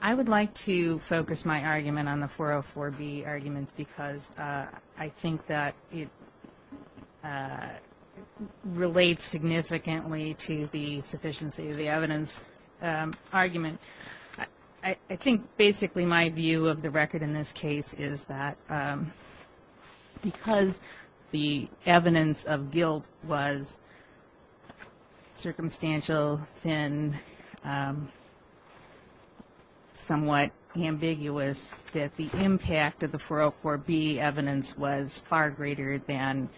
I would like to focus my argument on the 404B arguments because I think that it relates significantly to the sufficiency of the evidence argument. I think basically my view of the record in this case is that because the evidence of guilt was circumstantial, thin, somewhat ambiguous, that the impact of the 404B evidence was far greater than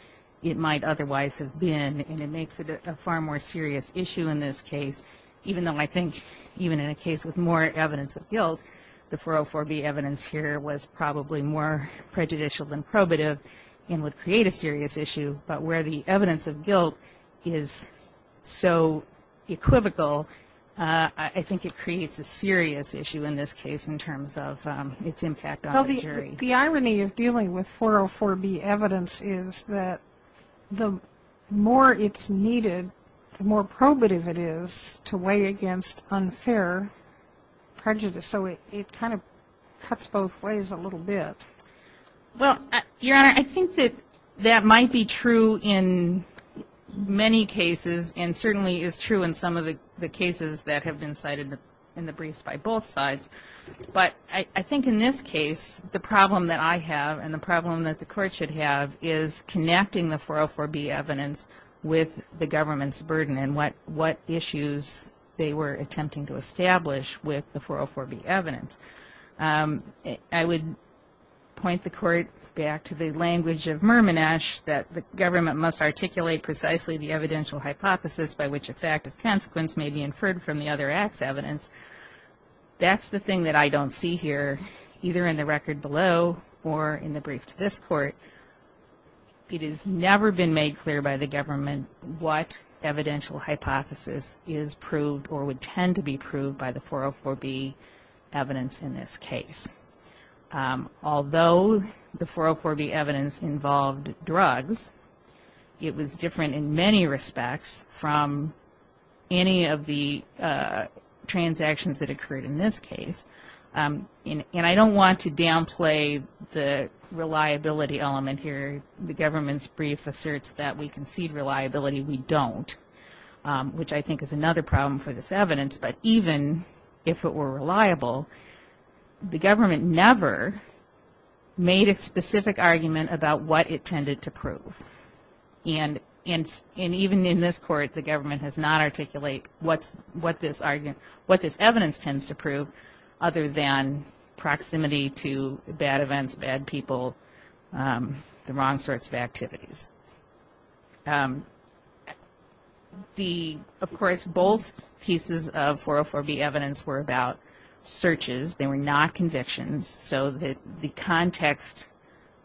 it might otherwise have been. And it makes it a far more serious issue in this case, even though I think even in a case with more evidence of guilt, the 404B evidence here was probably more prejudicial than probative and would create a serious issue. But where the evidence of guilt is so equivocal, I think it creates a serious issue in this case in terms of its impact on the jury. The irony of dealing with 404B evidence is that the more it's needed, the more probative it is to weigh against unfair prejudice, so it kind of cuts both ways a little bit. Well, Your Honor, I think that that might be true in many cases and certainly is true in some of the cases that have been cited in the briefs by both sides. But I think in this case, the problem that I have and the problem that the Court should have is connecting the 404B evidence with the government's burden and what issues they were attempting to establish with the 404B evidence. I would point the Court back to the language of Mermonash that the government must articulate precisely the evidential hypothesis by which a fact of consequence may be inferred from the other act's evidence. That's the thing that I don't see here, either in the record below or in the brief to this Court. It has never been made clear by the government what evidential hypothesis is proved or would tend to be proved by the 404B evidence in this case. Although the 404B evidence involved drugs, it was different in many respects from any of the transactions that occurred in this case. And I don't want to downplay the reliability element here. The government's brief asserts that we concede reliability, we don't, which I think is another problem for this evidence. But even if it were reliable, the government never made a specific argument about what it tended to prove. And even in this Court, the government has not articulated what this evidence tends to prove other than proximity to bad events, bad people, the wrong sorts of activities. Of course, both pieces of 404B evidence were about searches. They were not convictions, so that the context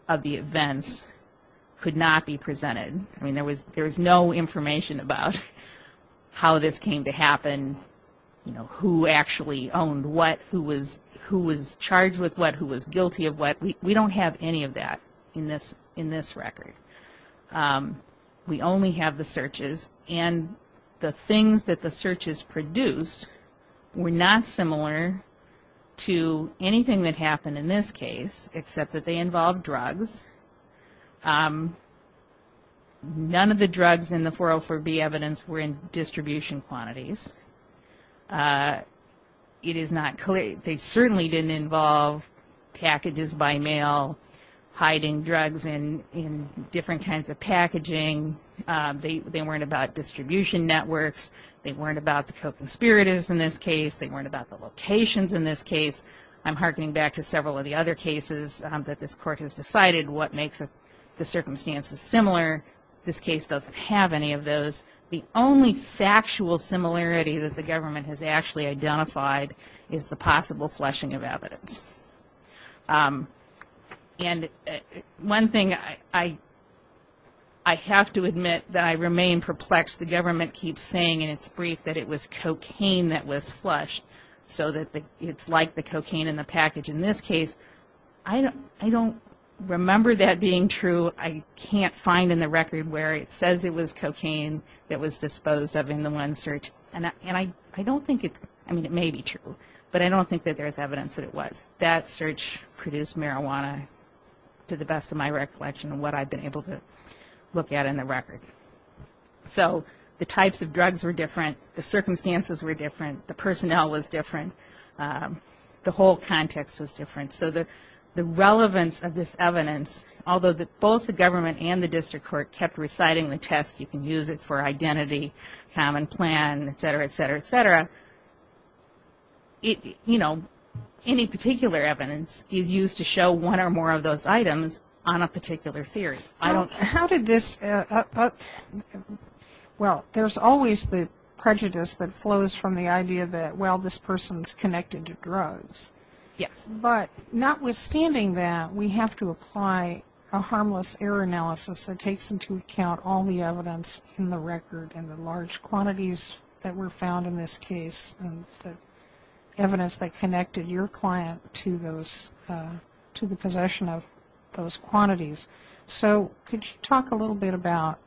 of the events could not be presented. I mean, there was no information about how this came to happen, who actually owned what, who was charged with what, who was guilty of what. We don't have any of that in this record. We only have the searches, and the things that the searches produced were not similar to anything that happened in this case, except that they involved drugs. None of the drugs in the 404B evidence were in distribution quantities. It is not clear, they certainly didn't involve packages by mail, hiding drugs in different kinds of packaging. They weren't about distribution networks, they weren't about the co-conspirators in this case, they weren't about the locations in this case. I'm hearkening back to several of the other cases that this Court has decided what makes the circumstances similar. This case doesn't have any of those. The only factual similarity that the government has actually identified is the possible flushing of evidence. And one thing, I have to admit that I remain perplexed. The government keeps saying in its brief that it was cocaine that was flushed, so that it's like the cocaine in the package. In this case, I don't remember that being true. I can't find in the record where it says it was cocaine that was disposed of in the one search. And I don't think it's, I mean it may be true, but I don't think that there's evidence that it was. That search produced marijuana to the best of my recollection of what I've been able to look at in the record. So the types of drugs were different, the circumstances were different, the personnel was different, the whole context was different. So the relevance of this evidence, although both the government and the District Court kept reciting the test, you can use it for identity, common plan, et cetera, et cetera, et cetera, any particular evidence is used to show one or more of those items on a particular theory. Well, there's always the prejudice that flows from the idea that, well, this person's connected to drugs. But notwithstanding that, we have to apply a harmless error analysis that takes into account all the evidence in the record and the large quantities that were found in this case and the evidence that connected your client to the possession of those quantities. So could you talk a little bit about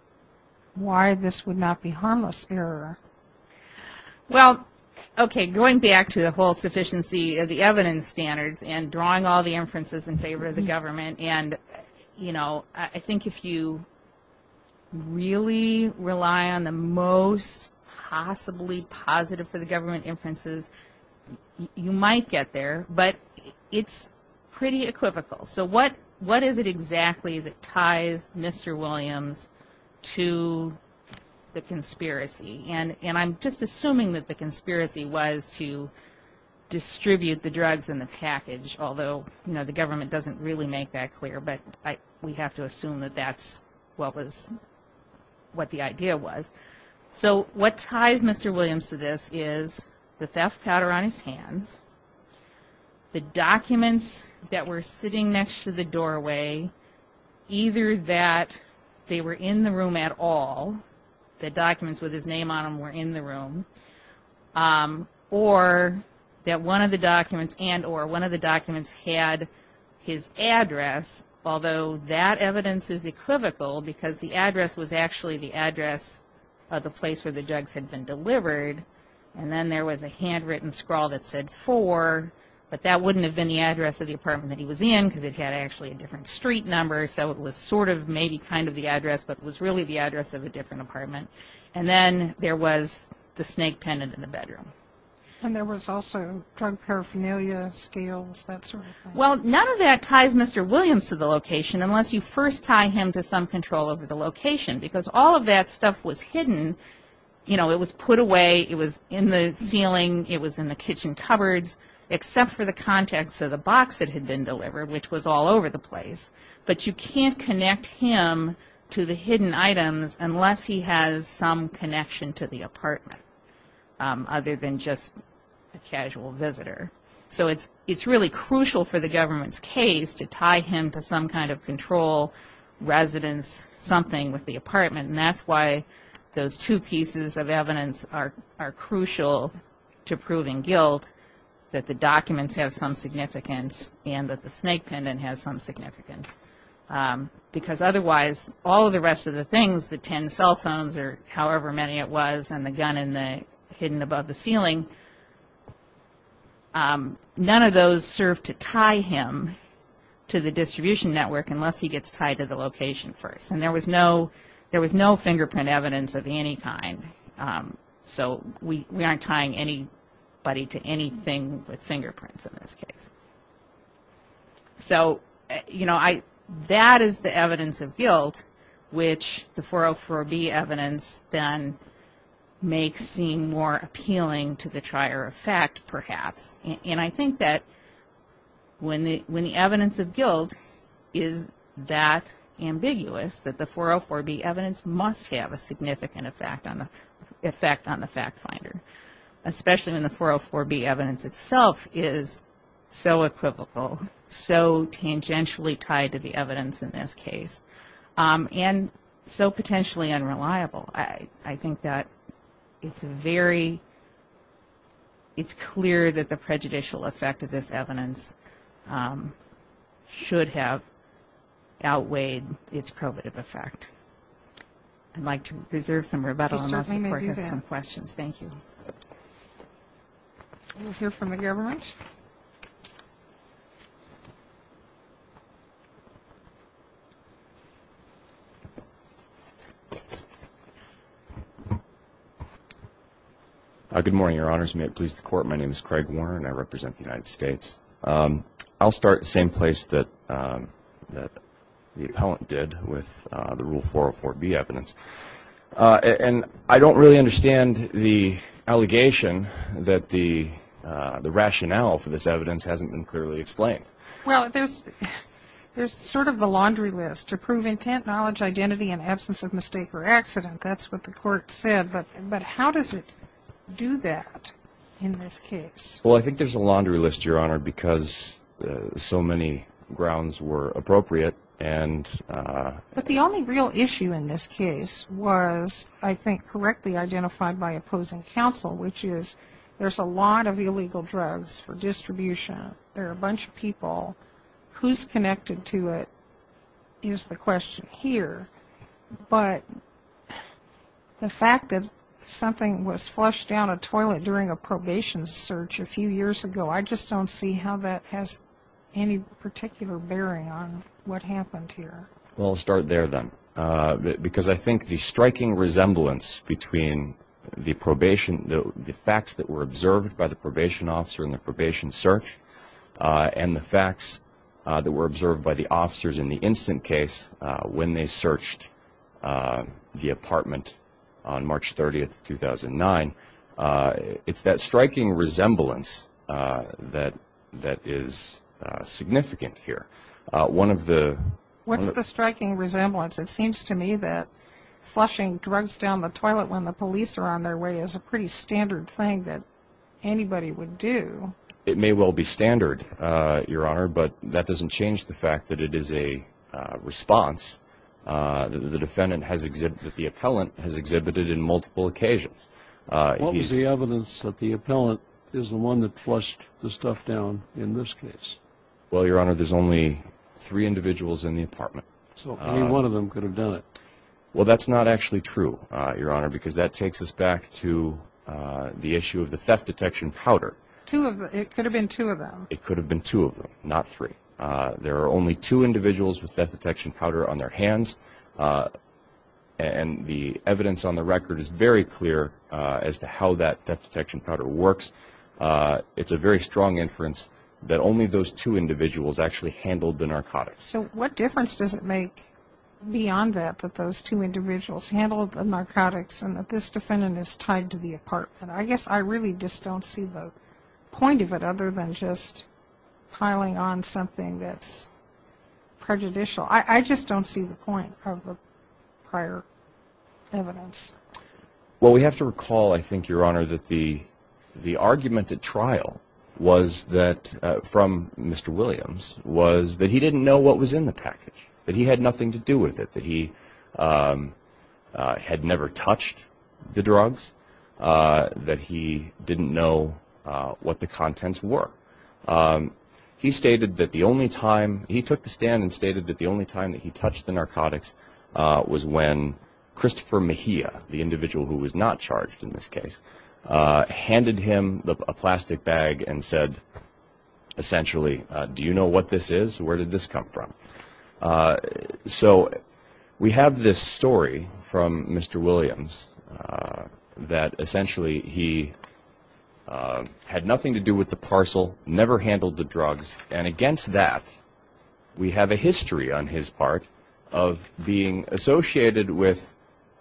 why this would not be harmless error? Well, okay, going back to the whole sufficiency of the evidence standards and drawing all the inferences in favor of the government and, you know, I think if you really rely on the most possibly positive for the government inferences, you might get there, but it's pretty equivocal. So what is it exactly that ties Mr. Williams to the conspiracy? And I'm just assuming that the conspiracy was to distribute the drugs in the package, although, you know, the government doesn't really make that clear, but we have to assume that that's what the idea was. So what ties Mr. Williams to this is the theft powder on his hands, either that they were in the room at all, the documents with his name on them were in the room, or that one of the documents and or one of the documents had his address, although that evidence is equivocal because the address was actually the address of the place where the drugs had been delivered, and then there was a handwritten scrawl that said four, but that wouldn't have been the address of the apartment that he was in because it had actually a different street number, so it was sort of maybe kind of the address, but it was really the address of a different apartment. And then there was the snake pendant in the bedroom. And there was also drug paraphernalia, scales, that sort of thing. Well, none of that ties Mr. Williams to the location unless you first tie him to some control over the location because all of that stuff was hidden, you know, it was put away, it was in the ceiling, it was in the kitchen cupboards, except for the context of the box that had been delivered, which was all over the place, but you can't connect him to the hidden items unless he has some connection to the apartment, other than just a casual visitor. So it's really crucial for the government's case to tie him to some kind of control, residence, something with the apartment, and that's why those two pieces of evidence are crucial to proving guilt, that the documents have some significance and that the snake pendant has some significance. Because otherwise, all of the rest of the things, the ten cell phones, or however many it was, and the gun hidden above the ceiling, none of those serve to tie him to the distribution network unless he gets tied to the location first. And there was no fingerprint evidence of any kind, so we aren't tying anybody to anything with fingerprints in this case. So, you know, that is the evidence of guilt, which the 404B evidence, then, may seem more appealing to the trier of fact, perhaps. And I think that when the evidence of guilt is that ambiguous, that the 404B evidence must have a significant effect on the fact finder, especially when the 404B evidence itself is so equivocal, so tangentially tied to the evidence in this case, and so potentially unreliable. I think that it's very, it's clear that the prejudicial effect of this evidence should have outweighed its probative effect. I'd like to reserve some rebuttal unless the court has some questions. Thank you. Good morning, Your Honors. May it please the Court, my name is Craig Warner, and I represent the United States. I'll start at the same place that the appellant did with the Rule 404B evidence. And I don't really understand the allegation that the rationale for this evidence hasn't been clearly explained. Well, there's sort of a laundry list. To prove intent, knowledge, identity, and absence of mistake or accident, that's what the court said. But how does it do that in this case? Well, I think there's a laundry list, Your Honor, because so many grounds were appropriate. But the only real issue in this case was, I think, correctly identified by opposing counsel, which is there's a lot of illegal drugs for distribution. There are a bunch of people. Who's connected to it is the question here. But the fact that something was flushed down a toilet during a probation search a few years ago, I just don't see how that has any particular bearing on what happened here. Well, I'll start there then. Because I think the striking resemblance between the facts that were observed by the probation officer in the probation search and the facts that were observed by the officers in the instant case when they searched the apartment on March 30, 2009, it's that striking resemblance that is significant here. What's the striking resemblance? It seems to me that flushing drugs down the toilet when the police are on their way is a pretty standard thing that anybody would do. It may well be standard, Your Honor, but that doesn't change the fact that it is a response that the defendant has exhibited, that the appellant has exhibited in multiple occasions. What was the evidence that the appellant is the one that flushed the stuff down in this case? Well, Your Honor, there's only three individuals in the apartment. So any one of them could have done it? Well, that's not actually true, Your Honor, because that takes us back to the issue of the theft detection powder. It could have been two of them. It could have been two of them, not three. There are only two individuals with theft detection powder on their hands, and the evidence on the record is very clear as to how that theft detection powder works. It's a very strong inference that only those two individuals actually handled the narcotics. So what difference does it make beyond that, that those two individuals handled the narcotics and that this defendant is tied to the apartment? I guess I really just don't see the point of it other than just piling on something that's prejudicial. I just don't see the point of the prior evidence. Well, we have to recall, I think, Your Honor, that the argument at trial from Mr. Williams was that he didn't know what was in the package, that he had nothing to do with it, that he had never touched the drugs, that he didn't know what the contents were. He took the stand and stated that the only time that he touched the narcotics was when Christopher Mejia, the individual who was not charged in this case, handed him a plastic bag and said, essentially, do you know what this is? Where did this come from? So we have this story from Mr. Williams that essentially he had nothing to do with the parcel, never handled the drugs, and against that we have a history on his part of being associated with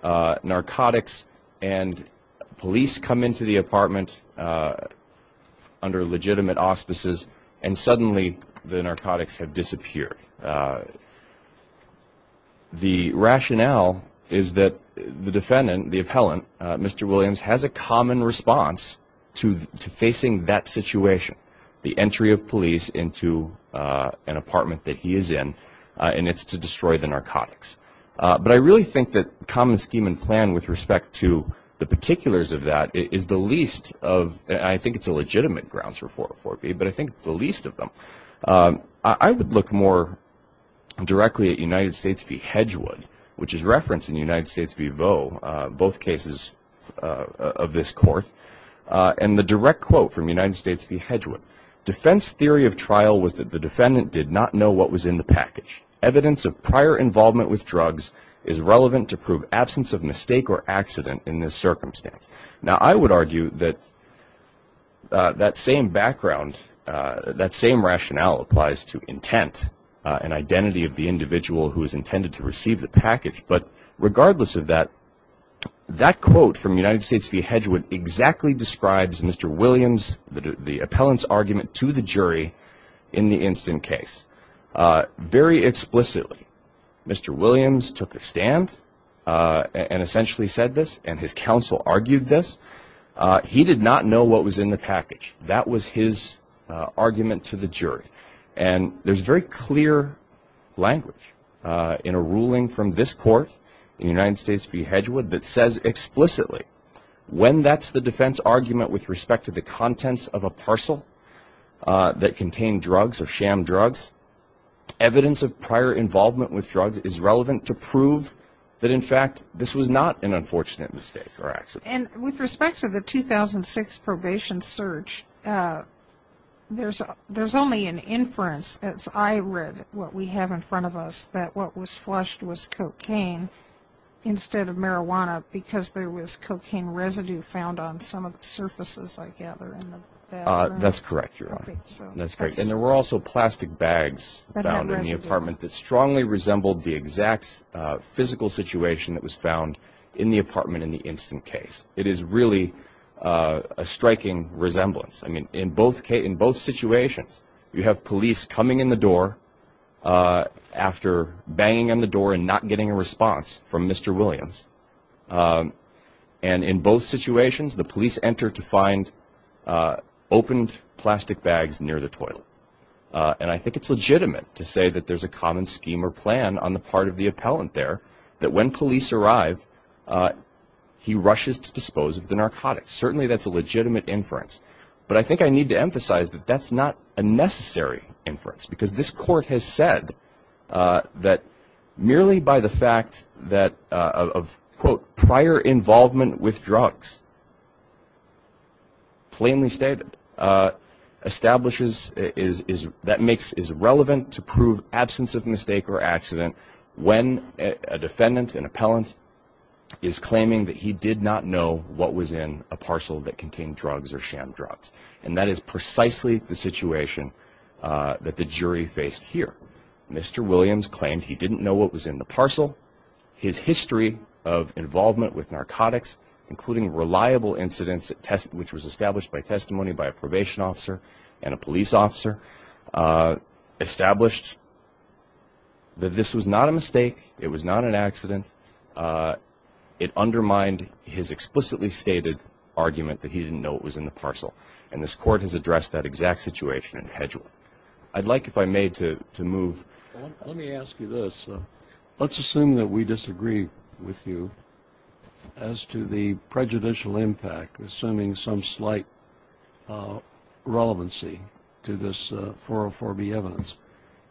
narcotics and police come into the apartment under legitimate auspices and suddenly the narcotics have disappeared. The rationale is that the defendant, the appellant, Mr. Williams, has a common response to facing that situation, the entry of police into an apartment that he is in, and it's to destroy the narcotics. But I really think that common scheme and plan with respect to the particulars of that is the least of, I think it's a legitimate grounds for 404B, but I think it's the least of them. I would look more directly at United States v. Hedgewood, which is referenced in United States v. Vaux, both cases of this court, and the direct quote from United States v. Hedgewood, defense theory of trial was that the defendant did not know what was in the package. Evidence of prior involvement with drugs is relevant to prove absence of mistake or accident in this circumstance. Now, I would argue that that same background, that same rationale applies to intent and identity of the individual who is intended to receive the package. But regardless of that, that quote from United States v. Hedgewood exactly describes Mr. Williams, the appellant's argument to the jury in the instant case. Very explicitly, Mr. Williams took a stand and essentially said this, and his counsel argued this, he did not know what was in the package. That was his argument to the jury. And there's very clear language in a ruling from this court in United States v. Hedgewood that says explicitly, when that's the defense argument with respect to the contents of a parcel that contained drugs or sham drugs, evidence of prior involvement with drugs is relevant to prove that, in fact, this was not an unfortunate mistake or accident. And with respect to the 2006 probation search, there's only an inference, as I read what we have in front of us, that what was flushed was cocaine instead of marijuana because there was cocaine residue found on some of the surfaces, I gather, in the bathroom. That's correct, Your Honor. And there were also plastic bags found in the apartment that strongly resembled the exact physical situation that was found in the apartment in the instant case. It is really a striking resemblance. I mean, in both situations, you have police coming in the door after banging on the door and not getting a response from Mr. Williams. And in both situations, the police enter to find opened plastic bags near the toilet. And I think it's legitimate to say that there's a common scheme or plan on the part of the appellant there that when police arrive, he rushes to dispose of the narcotics. Certainly that's a legitimate inference. But I think I need to emphasize that that's not a necessary inference because this Court has said that merely by the fact that of, quote, prior involvement with drugs, plainly stated, establishes that makes it relevant to prove absence of mistake or accident when a defendant, an appellant, is claiming that he did not know what was in a parcel that contained drugs or shambles. And that is precisely the situation that the jury faced here. Mr. Williams claimed he didn't know what was in the parcel. His history of involvement with narcotics, including reliable incidents, which was established by testimony by a probation officer and a police officer, established that this was not a mistake, it was not an accident. It undermined his explicitly stated argument that he didn't know what was in the parcel. And this Court has addressed that exact situation in Hedgewood. I'd like, if I may, to move. Let me ask you this. Let's assume that we disagree with you as to the prejudicial impact, assuming some slight relevancy to this 404B evidence.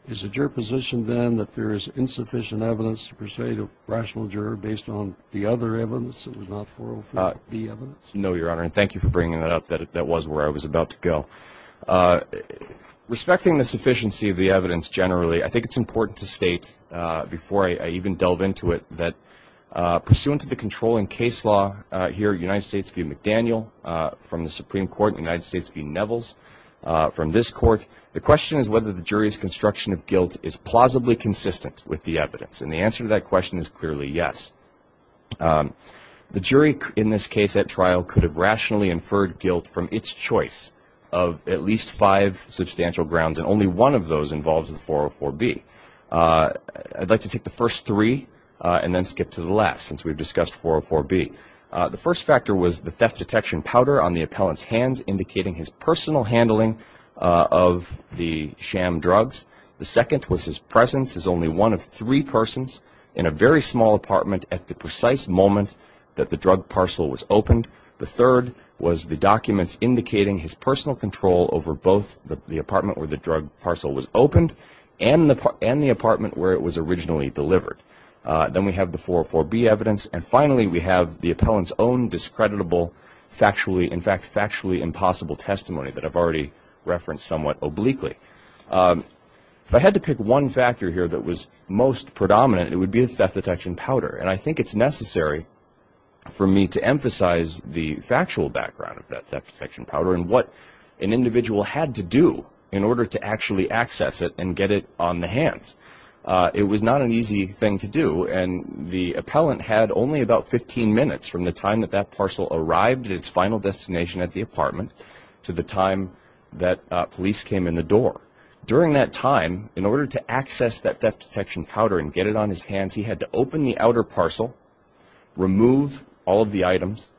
Is the juror positioned, then, that there is insufficient evidence to persuade a rational juror based on the other evidence that was not 404B evidence? No, Your Honor, and thank you for bringing that up. That was where I was about to go. Respecting the sufficiency of the evidence generally, I think it's important to state, before I even delve into it, that pursuant to the controlling case law here at United States v. McDaniel, from the Supreme Court in the United States v. Nevels, from this Court, the question is whether the jury's construction of guilt is plausibly consistent with the evidence. And the answer to that question is clearly yes. The jury in this case at trial could have rationally inferred guilt from its choice of at least five substantial grounds, and only one of those involves the 404B. I'd like to take the first three and then skip to the last, since we've discussed 404B. The first factor was the theft detection powder on the appellant's hands, indicating his personal handling of the sham drugs. The second was his presence as only one of three persons in a very small apartment at the precise moment that the drug parcel was opened. The third was the documents indicating his personal control over both the apartment where the drug parcel was opened and the apartment where it was originally delivered. Then we have the 404B evidence. And finally, we have the appellant's own discreditable, factually, in fact, factually impossible testimony that I've already referenced somewhat obliquely. If I had to pick one factor here that was most predominant, it would be the theft detection powder. And I think it's necessary for me to emphasize the factual background of that theft detection powder and what an individual had to do in order to actually access it and get it on the hands. It was not an easy thing to do. And the appellant had only about 15 minutes from the time that that parcel arrived at its final destination at the apartment to the time that police came in the door. During that time, in order to access that theft detection powder and get it on his hands, he had to open the outer parcel, remove all of the items,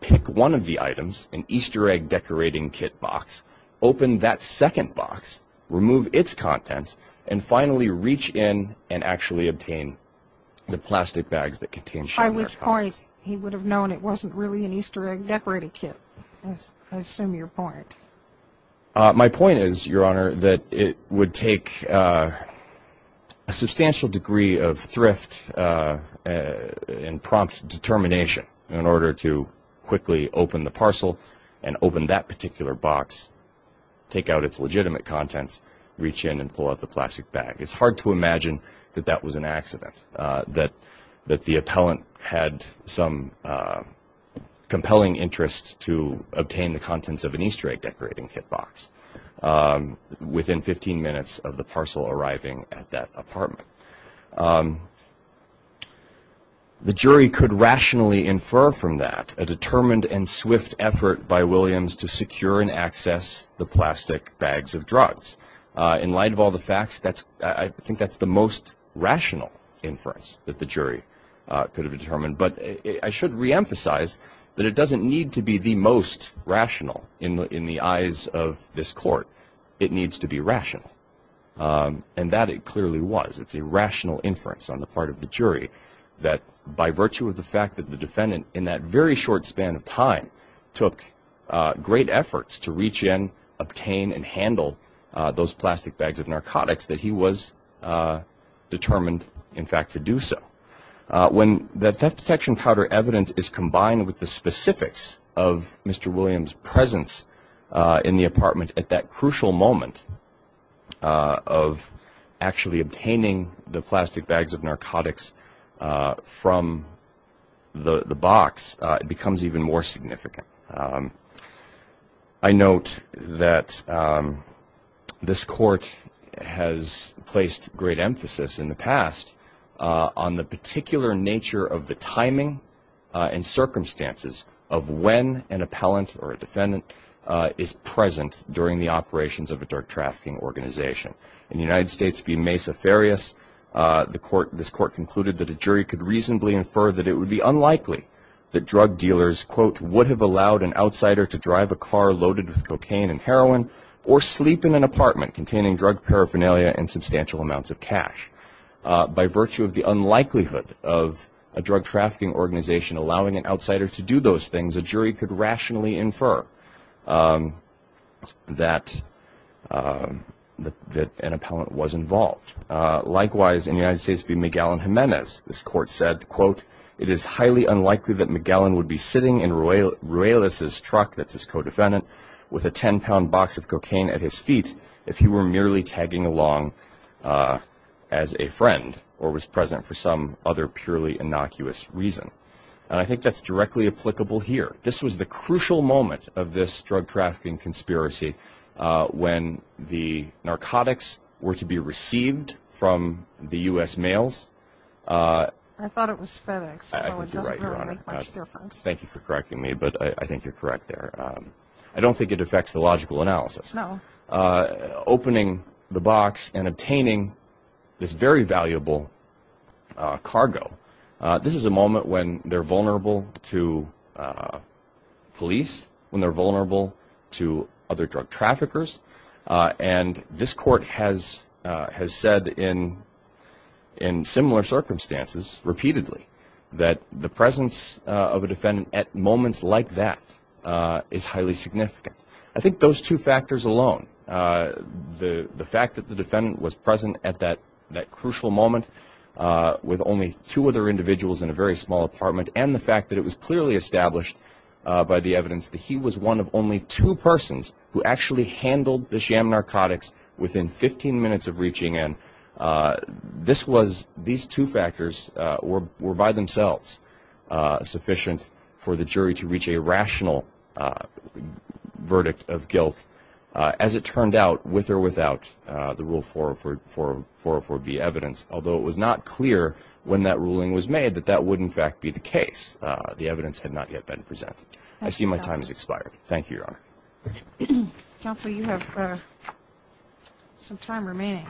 pick one of the items, an Easter egg decorating kit box, open that second box, remove its contents, and finally reach in and actually obtain the plastic bags that contained the powder. By which point he would have known it wasn't really an Easter egg decorating kit. I assume your point. My point is, Your Honor, that it would take a substantial degree of thrift and prompt determination in order to quickly open the parcel and open that particular box, take out its legitimate contents, reach in and pull out the plastic bag. It's hard to imagine that that was an accident, that the appellant had some compelling interest to obtain the contents of an Easter egg decorating kit box within 15 minutes of the parcel arriving at that apartment. The jury could rationally infer from that a determined and swift effort by Williams to secure and access the plastic bags of drugs. In light of all the facts, I think that's the most rational inference that the jury could have determined. But I should reemphasize that it doesn't need to be the most rational in the eyes of this court. It needs to be rational. And that it clearly was. It's a rational inference on the part of the jury that by virtue of the fact that the defendant had those plastic bags of narcotics, that he was determined, in fact, to do so. When the theft detection powder evidence is combined with the specifics of Mr. Williams' presence in the apartment at that crucial moment of actually obtaining the plastic bags of narcotics from the box, it becomes even more significant. I note that this court has placed great emphasis in the past on the particular nature of the timing and circumstances of when an appellant or a defendant is present during the operations of a drug trafficking organization. In the United States v. Mesa Farias, this court concluded that a jury could reasonably infer that it would be unlikely that drug dealers, quote, would have allowed an outsider to drive a car loaded with cocaine and heroin or sleep in an apartment containing drug paraphernalia and substantial amounts of cash. By virtue of the unlikelihood of a drug trafficking organization allowing an outsider to do those things, a jury could rationally infer that an appellant was involved. Likewise, in the United States v. Miguel Jimenez, this court said, quote, it is highly unlikely that Miguel would be sitting in Ruelas' truck, that's his co-defendant, with a 10-pound box of cocaine at his feet if he were merely tagging along as a friend or was present for some other purely innocuous reason. And I think that's directly applicable here. This was the crucial moment of this drug trafficking conspiracy when the narcotics were to be received from the U.S. mails. I thought it was FedEx. Thank you for correcting me, but I think you're correct there. I don't think it affects the logical analysis. Opening the box and obtaining this very valuable cargo, this is a moment when they're vulnerable to police, when they're vulnerable to other drug traffickers, and this court has said in similar circumstances repeatedly that the presence of a defendant at moments like that is highly significant. I think those two factors alone, the fact that the defendant was present at that crucial moment with only two other individuals in a very small apartment, and the fact that it was clearly established by the evidence that he was one of only two persons who actually handled the sham narcotics within 15 minutes of reaching in, this was, these two factors were by themselves sufficient for the jury to reach a rational verdict of guilt, as it turned out with or without the Rule 404B evidence, although it was not clear when that ruling was made that that would in fact be the case. The evidence had not yet been presented. I see my time has expired. Thank you, Your Honor. Counsel, you have some time remaining.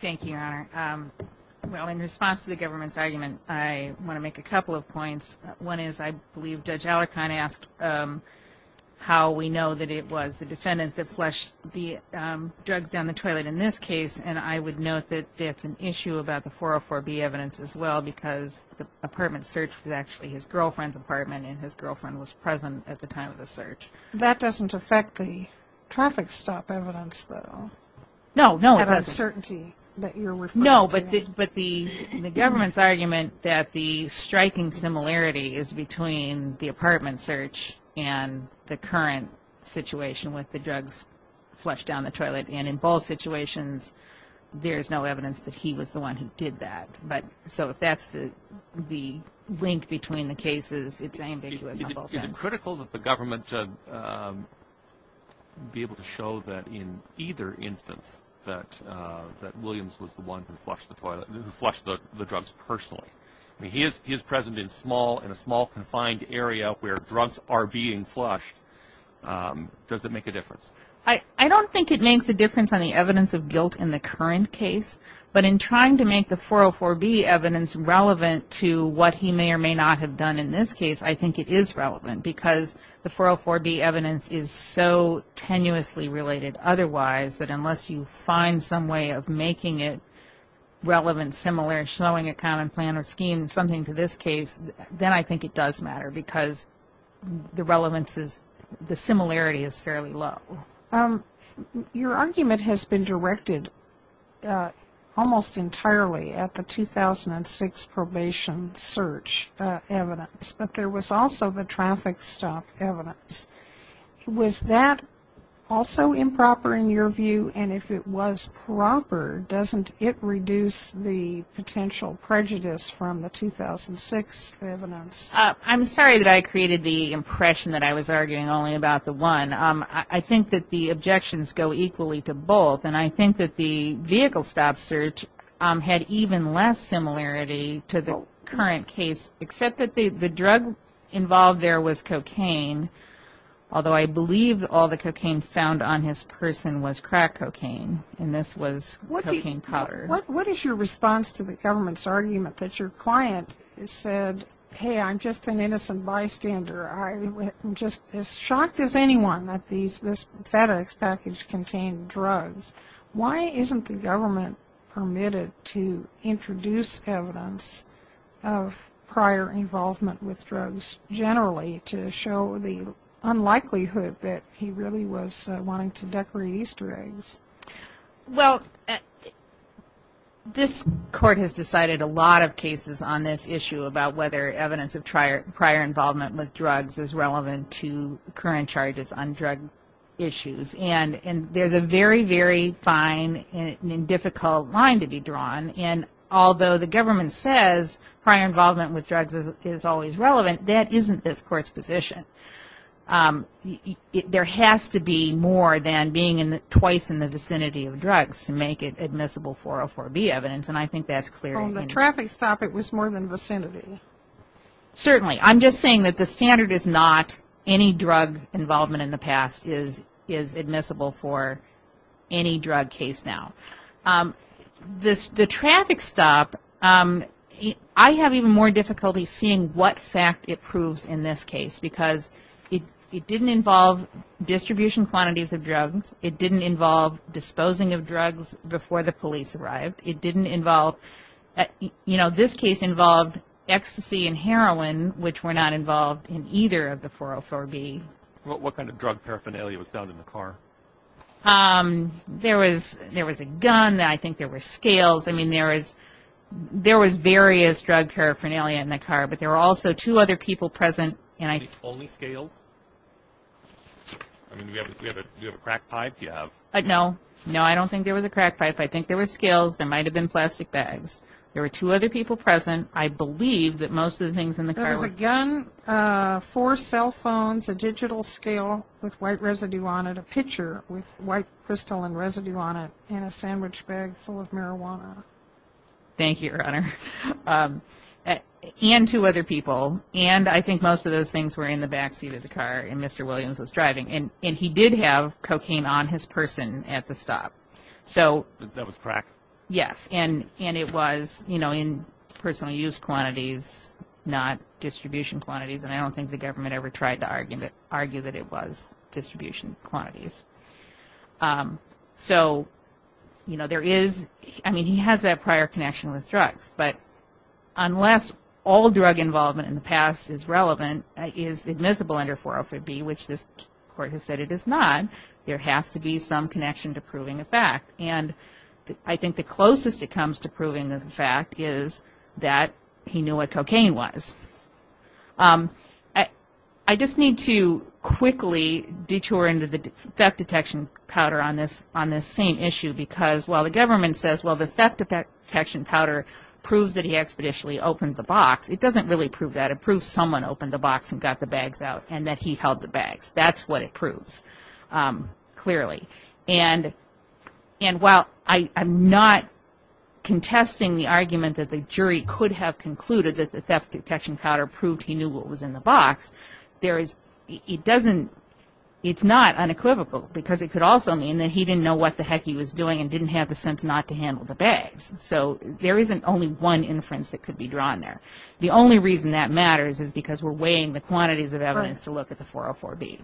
Thank you, Your Honor. Well, in response to the government's argument, I want to make a couple of points. One is I believe Judge Allerkind asked how we know that it was the defendant that flushed the drugs down the toilet in this case, and I would note that that's an issue about the 404B evidence as well, because the apartment search was actually his girlfriend's apartment and his girlfriend was present at the time of the search. That doesn't affect the traffic stop evidence, though. No, no, it doesn't. No, but the government's argument that the striking similarity is between the apartment search and the current situation with the drugs flushed down the toilet, and in both situations there's no evidence that he was the one who did that. So if that's the link between the cases, it's ambiguous on both ends. Is it critical that the government be able to show that in either instance that Williams was the one who flushed the drugs personally? I mean, he is present in a small confined area where drugs are being flushed. Does it make a difference? I don't think it makes a difference on the evidence of guilt in the current case, but in trying to make the 404B evidence relevant to what he may or may not have done in this case, I think it is relevant, because the 404B evidence is so tenuously related otherwise that unless you find some way of making it relevant, similar, showing a common plan or scheme, something to this case, then I think it does matter, because the relevance is the similarity is fairly low. Your argument has been directed almost entirely at the 2006 probation search evidence, but there was also the traffic stop evidence. Was that also improper in your view, and if it was proper, doesn't it reduce the potential prejudice from the 2006 evidence? I'm sorry that I created the impression that I was arguing only about the one. I think that the objections go equally to both, and I think that the vehicle stop search had even less similarity to the current case, except that the drug involved there was cocaine, although I believe all the cocaine found on his person was crack cocaine, and this was cocaine powder. What is your response to the government's argument that your client said, hey, I'm just an innocent bystander. I'm just as shocked as anyone that this FedEx package contained drugs. Why isn't the government permitted to introduce evidence of prior involvement with drugs generally to show the unlikelihood that he really was wanting to decorate Easter eggs? Well, this court has decided a lot of cases on this issue about whether evidence of prior involvement with drugs is relevant to current charges on drug issues, and there's a very, very fine and difficult line to be drawn, and although the government says prior involvement with drugs is always relevant, that isn't this court's position. There has to be more than being twice in the vicinity of drugs to make it admissible for a 4B evidence, and I think that's clear. From the traffic stop, it was more than vicinity. Certainly. I'm just saying that the standard is not any drug involvement in the past is admissible for any drug case now. The traffic stop, I have even more difficulty seeing what fact it proves in this case, because it didn't involve distribution quantities of drugs. It didn't involve disposing of drugs before the police arrived. This case involved ecstasy and heroin, which were not involved in either of the 404B. What kind of drug paraphernalia was found in the car? There was a gun. I think there were scales. There was various drug paraphernalia in the car, but there were also two other people present. Only scales? Do you have a crack pipe? No, I don't think there was a crack pipe. I think there were scales. There might have been plastic bags. There were two other people present. There was a gun, four cell phones, a digital scale with white residue on it, and a sandwich bag full of marijuana. Thank you, Your Honor, and two other people. I think most of those things were in the back seat of the car and Mr. Williams was driving. He did have cocaine on his person at the stop. That was crack? Yes, and it was in personal use quantities, not distribution quantities. I don't think the government ever tried to argue that it was distribution quantities. He has that prior connection with drugs, but unless all drug involvement in the past is relevant, is admissible under 404B, which this Court has said it is not, there has to be some connection to proving a fact. I think the closest it comes to proving a fact is that he knew what cocaine was. I just need to quickly detour into the theft detection powder on this same issue, because while the government says the theft detection powder proves that he expeditiously opened the box, it doesn't really prove that. And that he held the bags, that's what it proves, clearly. And while I'm not contesting the argument that the jury could have concluded that the theft detection powder proved he knew what was in the box, it's not unequivocal, because it could also mean that he didn't know what the heck he was doing and didn't have the sense not to handle the bags. So there isn't only one inference that could be drawn there. The only reason that matters is because we're weighing the quantities of evidence to look at the 404B.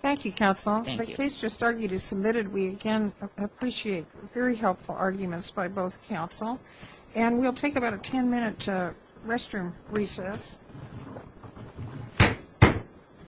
Thank you, Counsel. The case just argued is submitted.